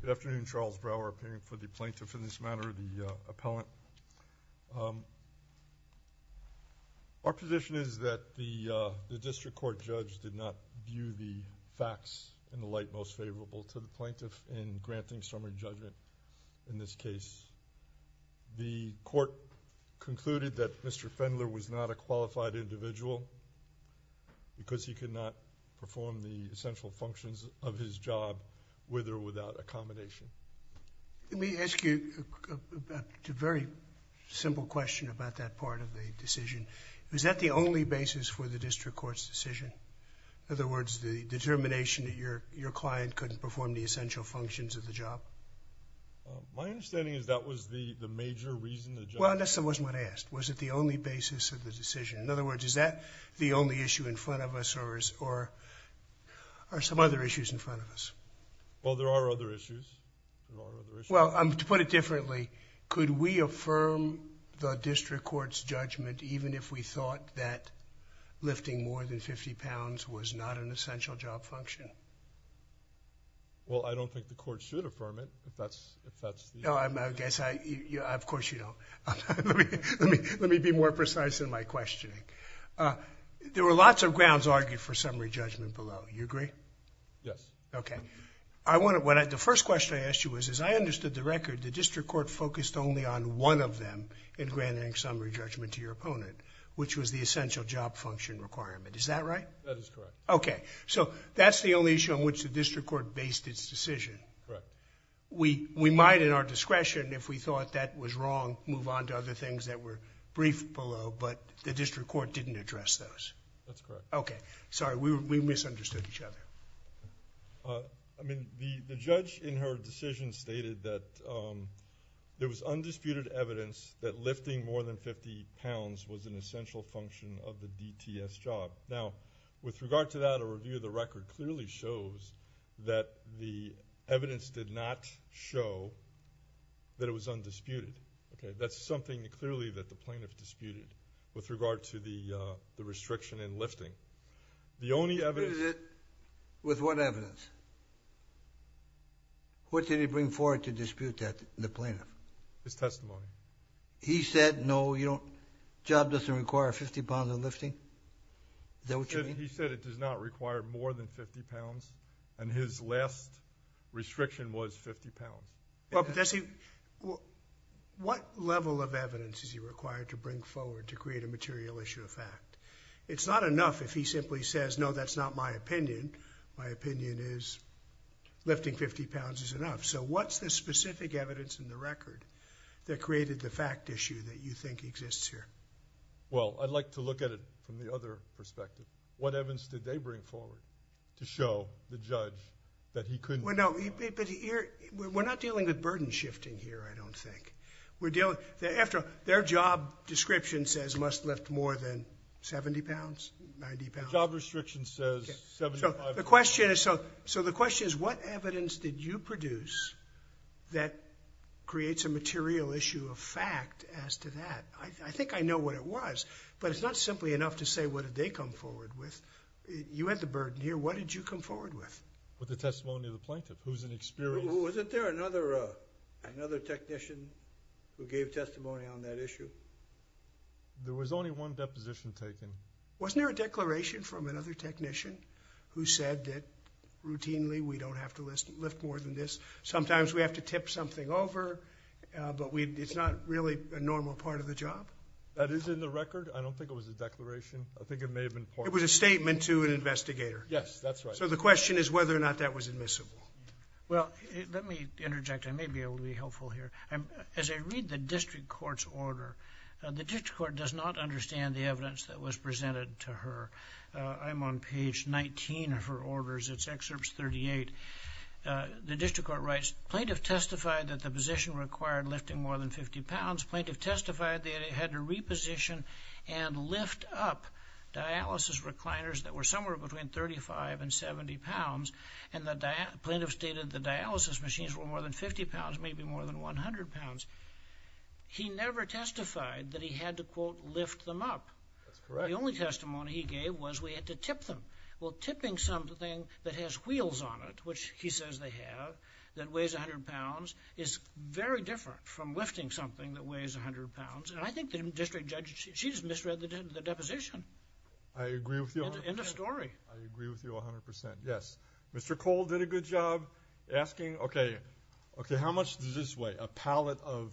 Good afternoon, Charles Brower, appearing for the plaintiff in this matter, the appellant. Our position is that the district court judge did not view the facts in the light most favorable to the plaintiff in granting summary judgment in this case. The court concluded that Mr. Pfendler was not a qualified individual because he could not perform the essential functions of his job with or without accommodation. Let me ask you a very simple question about that part of the decision. Is that the only basis for the district court's decision? In other words, the determination that your client couldn't perform the essential functions of the job? My understanding is that was the major reason the judge… Well, that wasn't what I asked. Was it the only basis of the decision? In other words, is that the only issue in front of us, or are some other issues in front of us? Well, there are other issues. There are other issues. Well, to put it differently, could we affirm the district court's judgment even if we thought that lifting more than 50 pounds was not an essential job function? Well, I don't think the court should affirm it, if that's the… No, I guess I — of course you don't. Let me be more precise in my questioning. There were lots of grounds argued for summary judgment below. You agree? Yes. Okay. I want to — the first question I asked you was, as I understood the record, the district court focused only on one of them in granting summary judgment to your opponent, which was the essential job function requirement. Is that right? That is correct. Okay. So that's the only issue on which the district court based its decision. Correct. We might, in our discretion, if we thought that was wrong, move on to other things that were briefed below, but the district court didn't address those. That's correct. Okay. Sorry. We misunderstood each other. I mean, the judge in her decision stated that there was undisputed evidence that lifting more than 50 pounds was an essential function of the DTS job. Now, with regard to that, a review of the record clearly shows that the evidence did not show that it was undisputed. Okay? That's something clearly that the plaintiff disputed with regard to the restriction in lifting. The only evidence — With what evidence? What did he bring forward to dispute that, the plaintiff? His testimony. He said, no, you don't — job doesn't require 50 pounds of lifting? Is that what you mean? He said it does not require more than 50 pounds, and his last restriction was 50 pounds. Well, but that's — what level of evidence is he required to bring forward to create a material issue of fact? It's not enough if he simply says, no, that's not my opinion. My opinion is lifting 50 pounds is enough. So what's the specific evidence in the record that created the fact issue that you think exists here? Well, I'd like to look at it from the other perspective. What evidence did they bring forward to show the judge that he couldn't — Well, no, but here — we're not dealing with burden shifting here, I don't think. We're dealing — after all, their job description says must lift more than 70 pounds, 90 pounds. Job restriction says 75 — So the question is — so the question is, what evidence did you produce that creates a material issue of fact as to that? I think I know what it was, but it's not simply enough to say what did they come forward with. You had the burden here. What did you come forward with? With the testimony of the plaintiff, who's an experienced — Wasn't there another technician who gave testimony on that issue? There was only one deposition taken. Wasn't there a declaration from another technician who said that routinely we don't have to lift more than this? Sometimes we have to tip something over, but we — it's not really a normal part of the job? That is in the record. I don't think it was a declaration. I think it may have been part of — It was a statement to an investigator. Yes, that's right. So the question is whether or not that was admissible. Well, let me interject. I may be able to be helpful here. As I read the district court's order, the district court does not understand the evidence that was presented to her. I'm on page 19 of her orders. It's excerpts 38. The district court writes, Plaintiff testified that the position required lifting more than 50 pounds. Plaintiff testified that it had to reposition and lift up dialysis recliners that were somewhere between 35 and 70 pounds, and the plaintiff stated the dialysis machines were more than 50 pounds, maybe more than 100 pounds. He never testified that he had to, quote, lift them up. That's correct. The only testimony he gave was we had to tip them. Well, tipping something that has wheels on it, which he says they have, that weighs 100 pounds, is very different from lifting something that weighs 100 pounds. And I think the district judge, she just misread the deposition. I agree with you 100 percent. In the story. I agree with you 100 percent. Yes. Mr. Cole did a good job asking, okay, okay, how much does this weigh? A pallet of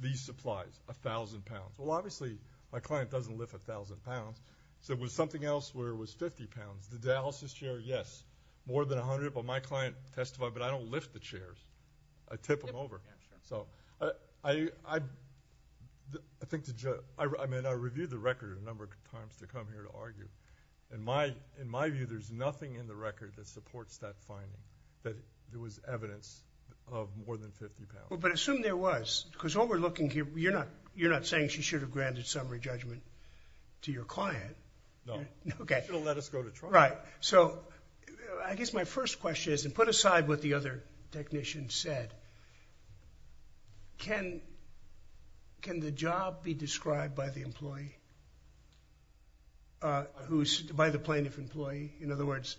these supplies, 1,000 pounds. Well, obviously, my client doesn't lift 1,000 pounds, so it was something else where it was 50 pounds. The dialysis chair, yes, more than 100, but my client testified, but I don't lift the chairs. I tip them over. Yeah, sure. So, I think the judge, I mean, I reviewed the record a number of times to come here to argue. In my view, there's nothing in the record that supports that finding, that there was evidence of more than 50 pounds. Well, but assume there was, because what we're looking here, you're not saying she should have granted summary judgment to your client. No. Okay. She should have let us go to trial. Right. So, I guess my first question is, and put aside what the other technician said, can the job be described by the employee, by the plaintiff employee? In other words,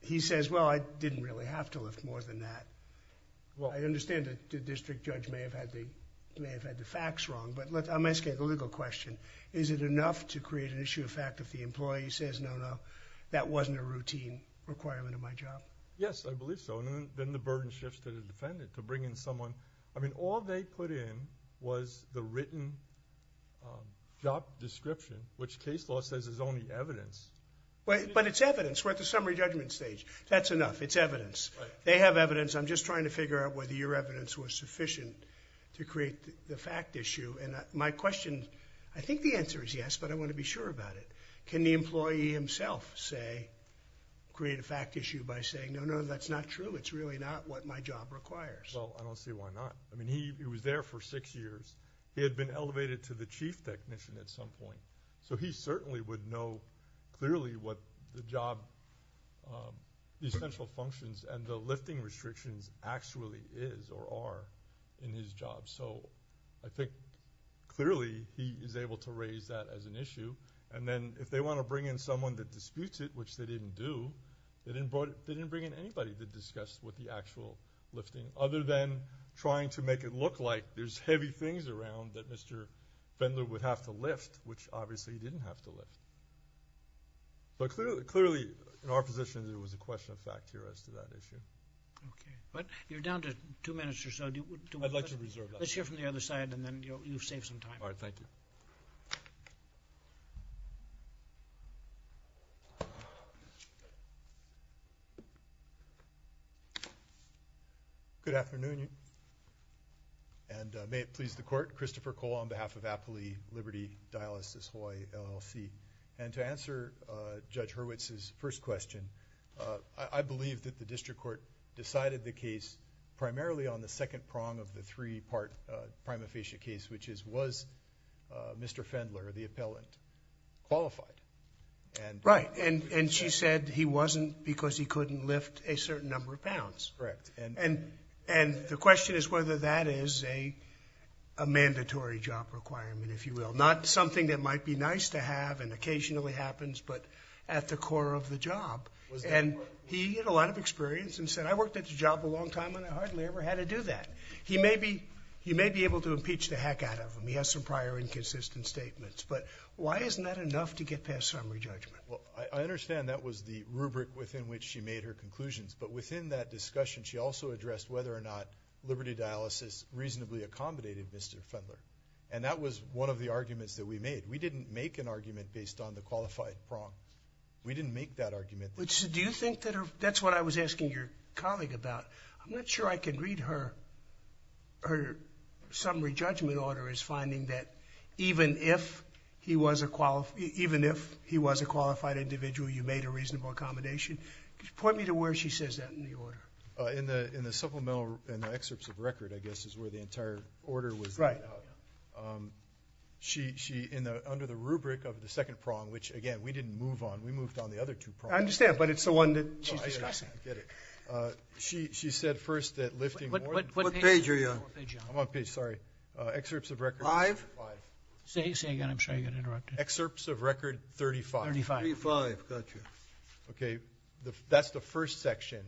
he says, well, I didn't really have to lift more than that. I understand that the district judge may have had the facts wrong, but I'm asking a legal question. Is it enough to create an issue of fact if the employee says, no, no, that wasn't a routine requirement of my job? Yes, I believe so, and then the burden shifts to the defendant to bring in someone. I mean, all they put in was the written job description, which case law says is only evidence. But it's evidence. We're at the summary judgment stage. That's enough. It's evidence. They have evidence. I'm just trying to figure out whether your evidence was sufficient to create the fact issue, and my question, I think the answer is yes, but I want to be sure about it. Can the employee himself say, create a fact issue by saying, no, no, that's not true, it's really not what my job requires? Well, I don't see why not. I mean, he was there for six years. He had been elevated to the chief technician at some point, so he certainly would know clearly what the job, the essential functions and the lifting restrictions actually is or are in his job. So I think clearly he is able to raise that as an issue, and then if they want to bring in someone that disputes it, which they didn't do, they didn't bring in anybody to discuss what the actual lifting, other than trying to make it look like there's heavy things around that Mr. Fendler would have to lift, which obviously he didn't have to lift. But clearly, in our position, there was a question of fact here as to that issue. Okay. But you're down to two minutes or so. I'd like to reserve that. Let's hear from the other side, and then you'll save some time. All right, thank you. Good afternoon, and may it please the Court. Christopher Cole on behalf of Appley Liberty Dialysis Hawaii LLC. And to answer Judge Hurwitz's first question, I believe that the district court decided primarily on the second prong of the three-part prima facie case, which is, was Mr. Fendler, the appellant, qualified? Right. And she said he wasn't because he couldn't lift a certain number of pounds. Correct. And the question is whether that is a mandatory job requirement, if you will, not something that might be nice to have and occasionally happens, but at the core of the job. And he had a lot of experience and said, I worked at the job a long time and I hardly ever had to do that. He may be able to impeach the heck out of him. He has some prior inconsistent statements. But why isn't that enough to get past summary judgment? Well, I understand that was the rubric within which she made her conclusions. But within that discussion, she also addressed whether or not liberty dialysis reasonably accommodated Mr. Fendler. And that was one of the arguments that we made. We didn't make an argument based on the qualified prong. We didn't make that argument. Do you think that's what I was asking your colleague about? I'm not sure I can read her summary judgment order as finding that even if he was a qualified individual, you made a reasonable accommodation. Point me to where she says that in the order. In the supplemental excerpts of record, I guess, is where the entire order was laid out. Right. Under the rubric of the second prong, which, again, we didn't move on. We moved on the other two prongs. I understand. But it's the one that she's discussing. I get it. She said first that lifting more than one page. What page are you on? I'm on page, sorry. Excerpts of record. Five? Five. Say it again. I'm sure you'll get interrupted. Excerpts of record 35. 35. Got you. Okay. That's the first section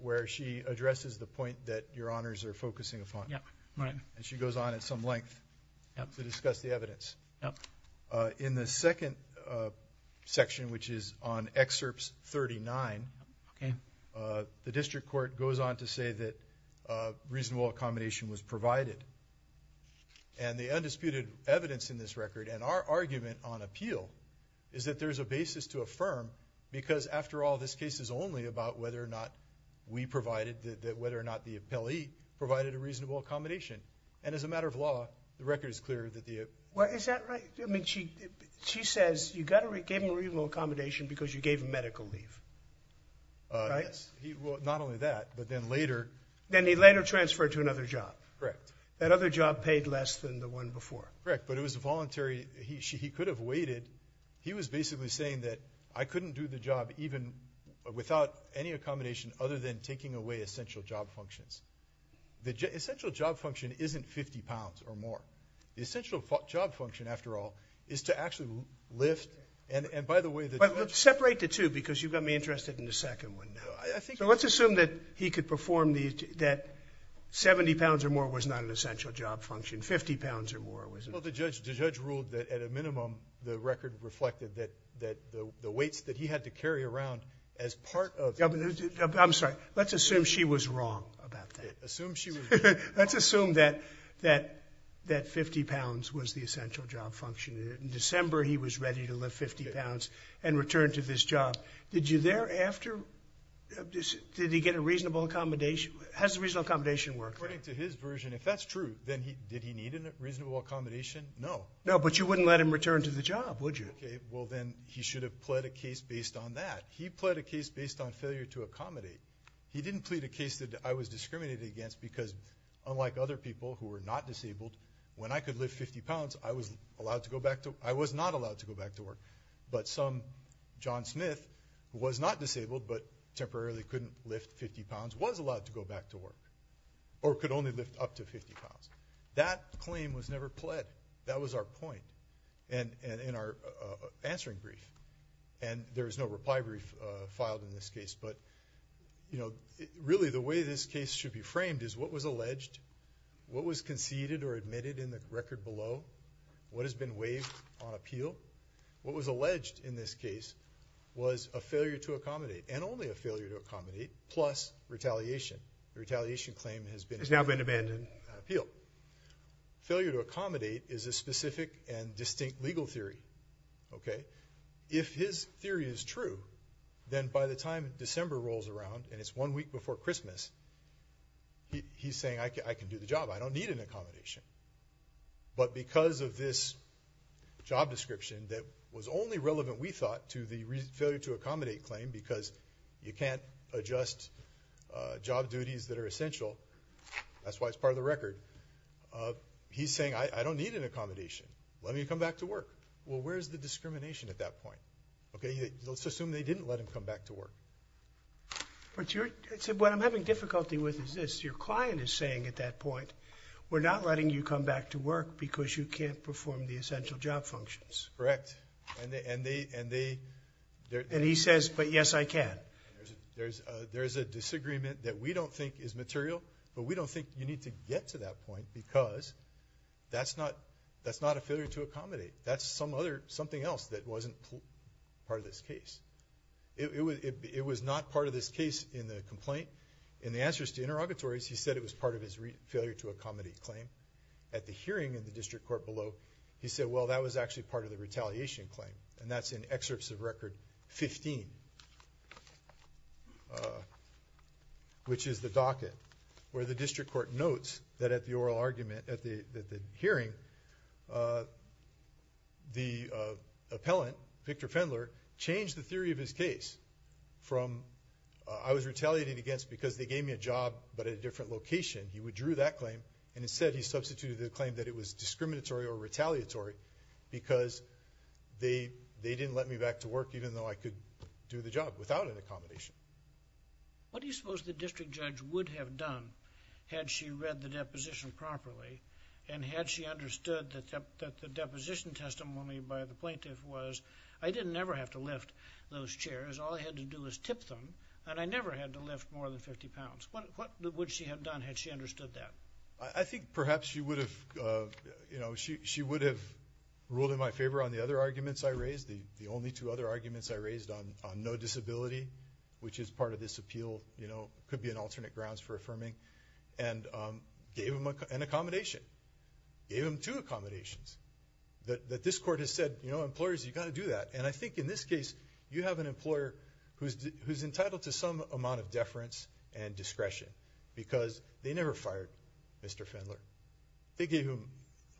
where she addresses the point that Your Honors are focusing upon. Right. Okay. And she goes on at some length to discuss the evidence. Yep. In the second section, which is on excerpts 39. Okay. The district court goes on to say that reasonable accommodation was provided. And the undisputed evidence in this record and our argument on appeal is that there's a basis to affirm because, after all, this case is only about whether or not we provided whether or not the appellee provided a reasonable accommodation. And as a matter of law, the record is clear that the Well, is that right? I mean, she says you gave him a reasonable accommodation because you gave him medical leave. Right? Yes. Well, not only that, but then later Then he later transferred to another job. Correct. That other job paid less than the one before. Correct. But it was voluntary. He could have waited. He was basically saying that I couldn't do the job even without any accommodation other than taking away essential job functions. The essential job function isn't 50 pounds or more. The essential job function, after all, is to actually lift. And by the way, the judge Separate the two because you got me interested in the second one. No, I think So let's assume that he could perform the 70 pounds or more was not an essential job function. 50 pounds or more was Well, the judge ruled that at a minimum the record reflected that the weights that he had to carry around as part of I'm sorry. Let's assume she was wrong about that. Assume she was wrong. Let's assume that 50 pounds was the essential job function. In December, he was ready to lift 50 pounds and return to this job. Did you thereafter, did he get a reasonable accommodation? How does the reasonable accommodation work? According to his version, if that's true, then did he need a reasonable accommodation? No. No, but you wouldn't let him return to the job, would you? Okay. Well, then he should have pled a case based on that. He pled a case based on failure to accommodate. He didn't plead a case that I was discriminated against because unlike other people who were not disabled, when I could lift 50 pounds, I was allowed to go back to I was not allowed to go back to work. But some John Smith who was not disabled but temporarily couldn't lift 50 pounds was allowed to go back to work or could only lift up to 50 pounds. That claim was never pled. That was our point. And in our answering brief. And there was no reply brief filed in this case. But, you know, really the way this case should be framed is what was alleged, what was conceded or admitted in the record below, what has been waived on appeal. What was alleged in this case was a failure to accommodate and only a failure to accommodate plus retaliation. The retaliation claim has been It's now been abandoned. appealed. Failure to accommodate is a specific and distinct legal theory. OK, if his theory is true, then by the time December rolls around and it's one week before Christmas, he's saying, I can do the job. I don't need an accommodation. But because of this job description that was only relevant, we thought, to the failure to accommodate claim because you can't adjust job duties that are essential. That's why it's part of the record. He's saying, I don't need an accommodation. Let me come back to work. Well, where's the discrimination at that point? OK, let's assume they didn't let him come back to work. But what I'm having difficulty with is this. Your client is saying at that point, we're not letting you come back to work because you can't perform the essential job functions. Correct. And he says, but yes, I can. There's a disagreement that we don't think is material, but we don't think you need to get to that point because that's not a failure to accommodate. That's something else that wasn't part of this case. It was not part of this case in the complaint. In the answers to interrogatories, he said it was part of his failure to accommodate claim. At the hearing in the district court below, he said, well, that was actually part of the retaliation claim. And that's in excerpts of record 15, which is the docket where the district court notes that at the oral argument at the hearing, the appellant, Victor Fendler, changed the theory of his case from, I was retaliated against because they gave me a job but at a different location. He withdrew that claim. And instead, he substituted the claim that it was discriminatory or retaliatory because they didn't let me back to work even though I could do the job without an accommodation. What do you suppose the district judge would have done had she read the deposition properly and had she understood that the deposition testimony by the plaintiff was, I didn't ever have to lift those chairs. All I had to do was tip them, and I never had to lift more than 50 pounds. What would she have done had she understood that? I think perhaps she would have, you know, she would have ruled in my favor on the other arguments I raised, the only two other arguments I raised on no disability, which is part of this appeal, you know, could be an alternate grounds for affirming, and gave him an accommodation. Gave him two accommodations that this court has said, you know, employers, you've got to do that. And I think in this case, you have an employer who's entitled to some amount of deference and discretion because they never fired Mr. Fendler. They gave him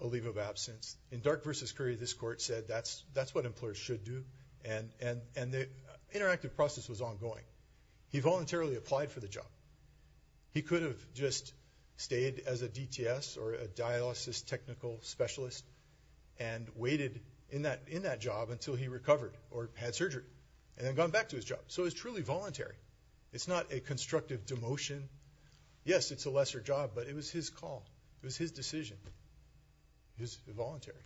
a leave of absence. In Dark v. Curry, this court said that's what employers should do, and the interactive process was ongoing. He voluntarily applied for the job. He could have just stayed as a DTS or a dialysis technical specialist and waited in that job until he recovered or had surgery, and then gone back to his job. So it was truly voluntary. It's not a constructive demotion. Yes, it's a lesser job, but it was his call. It was his decision. It was voluntary.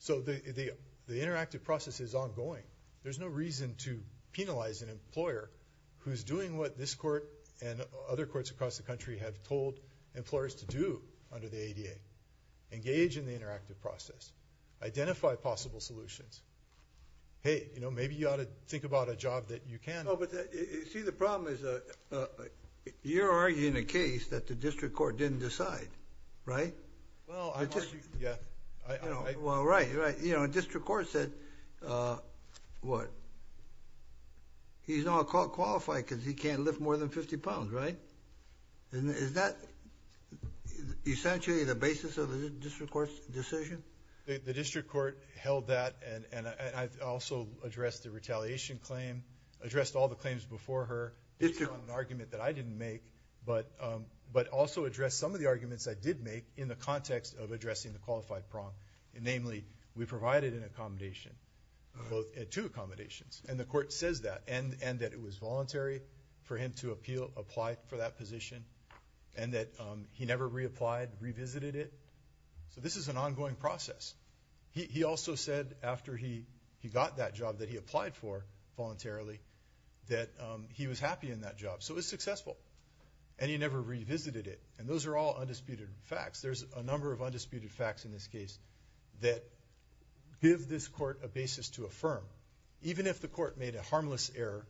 So the interactive process is ongoing. There's no reason to penalize an employer who's doing what this court and other courts across the country have told employers to do under the ADA. Engage in the interactive process. Identify possible solutions. Hey, you know, maybe you ought to think about a job that you can. No, but see, the problem is you're arguing a case that the district court didn't decide, right? Well, I argue, yeah. Well, right, right. You know, district court said what? He's not qualified because he can't lift more than 50 pounds, right? Isn't that essentially the basis of the district court's decision? The district court held that, and I also addressed the retaliation claim, addressed all the claims before her. It's an argument that I didn't make, but also addressed some of the arguments I did make in the context of addressing the qualified prong. Namely, we provided an accommodation, two accommodations, and the court says that, and that it was voluntary for him to apply for that position, and that he never reapplied, revisited it. So this is an ongoing process. He also said after he got that job that he applied for voluntarily that he was happy in that job. So it was successful, and he never revisited it, and those are all undisputed facts. There's a number of undisputed facts in this case that give this court a basis to affirm. Even if the court made a harmless error,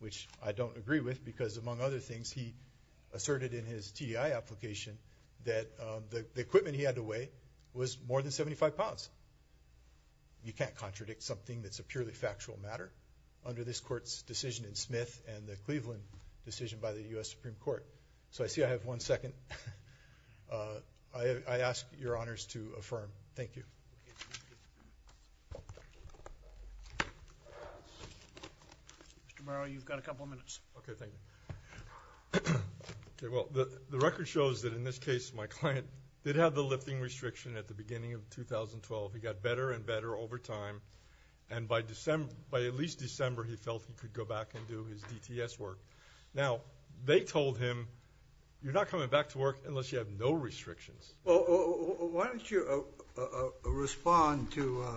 which I don't agree with because, among other things, he asserted in his TEI application that the equipment he had to weigh was more than 75 pounds. You can't contradict something that's a purely factual matter under this court's decision in Smith and the Cleveland decision by the U.S. Supreme Court. So I see I have one second. I ask your honors to affirm. Thank you. Thank you. Mr. Morrow, you've got a couple of minutes. Okay, thank you. Okay, well, the record shows that in this case my client did have the lifting restriction at the beginning of 2012. He got better and better over time, and by at least December he felt he could go back and do his DTS work. Now, they told him, you're not coming back to work unless you have no restrictions. Well, why don't you respond to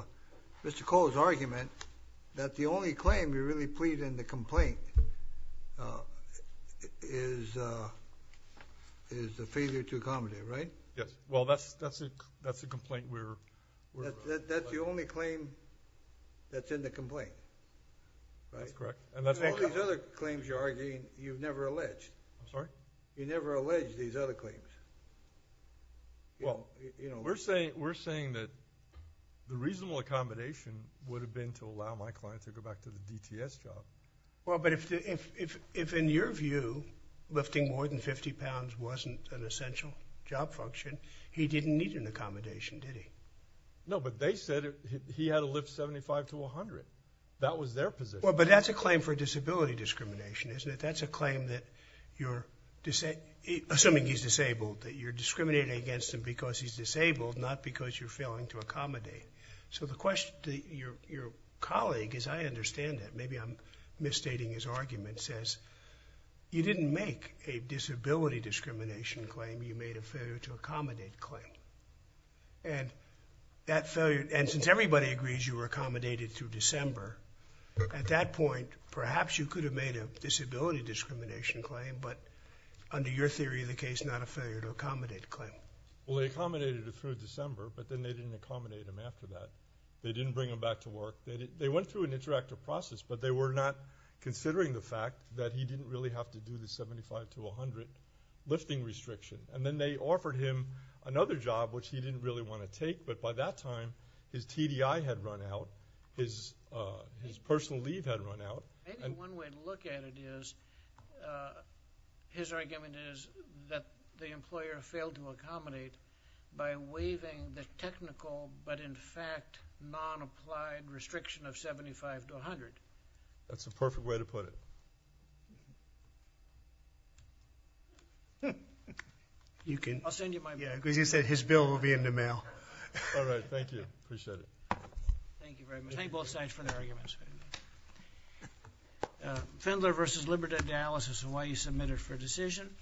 Mr. Cole's argument that the only claim you really plead in the complaint is the failure to accommodate, right? Yes. Well, that's the complaint we're raising. That's the only claim that's in the complaint, right? That's correct. All these other claims you're arguing you've never alleged. I'm sorry? You never alleged these other claims. Well, we're saying that the reasonable accommodation would have been to allow my client to go back to the DTS job. Well, but if in your view lifting more than 50 pounds wasn't an essential job function, he didn't need an accommodation, did he? No, but they said he had to lift 75 to 100. That was their position. Well, but that's a claim for disability discrimination, isn't it? That's a claim that you're, assuming he's disabled, that you're discriminating against him because he's disabled, not because you're failing to accommodate. So the question, your colleague, as I understand it, maybe I'm misstating his argument, says you didn't make a disability discrimination claim. You made a failure to accommodate claim. And that failure, and since everybody agrees you were accommodated through December, at that point perhaps you could have made a disability discrimination claim, but under your theory of the case not a failure to accommodate claim. Well, they accommodated him through December, but then they didn't accommodate him after that. They didn't bring him back to work. They went through an interactive process, but they were not considering the fact that he didn't really have to do the 75 to 100 lifting restriction. And then they offered him another job, which he didn't really want to take, but by that time his TDI had run out, his personal leave had run out. Maybe one way to look at it is his argument is that the employer failed to accommodate by waiving the technical, but in fact non-applied restriction of 75 to 100. That's the perfect way to put it. I'll send you my book. Yeah, because you said his bill will be in the mail. All right, thank you. Appreciate it. Thank you very much. Thank you both sides for their arguments. Fendler v. Liberty Dialysis, Hawaii, submitted for decision.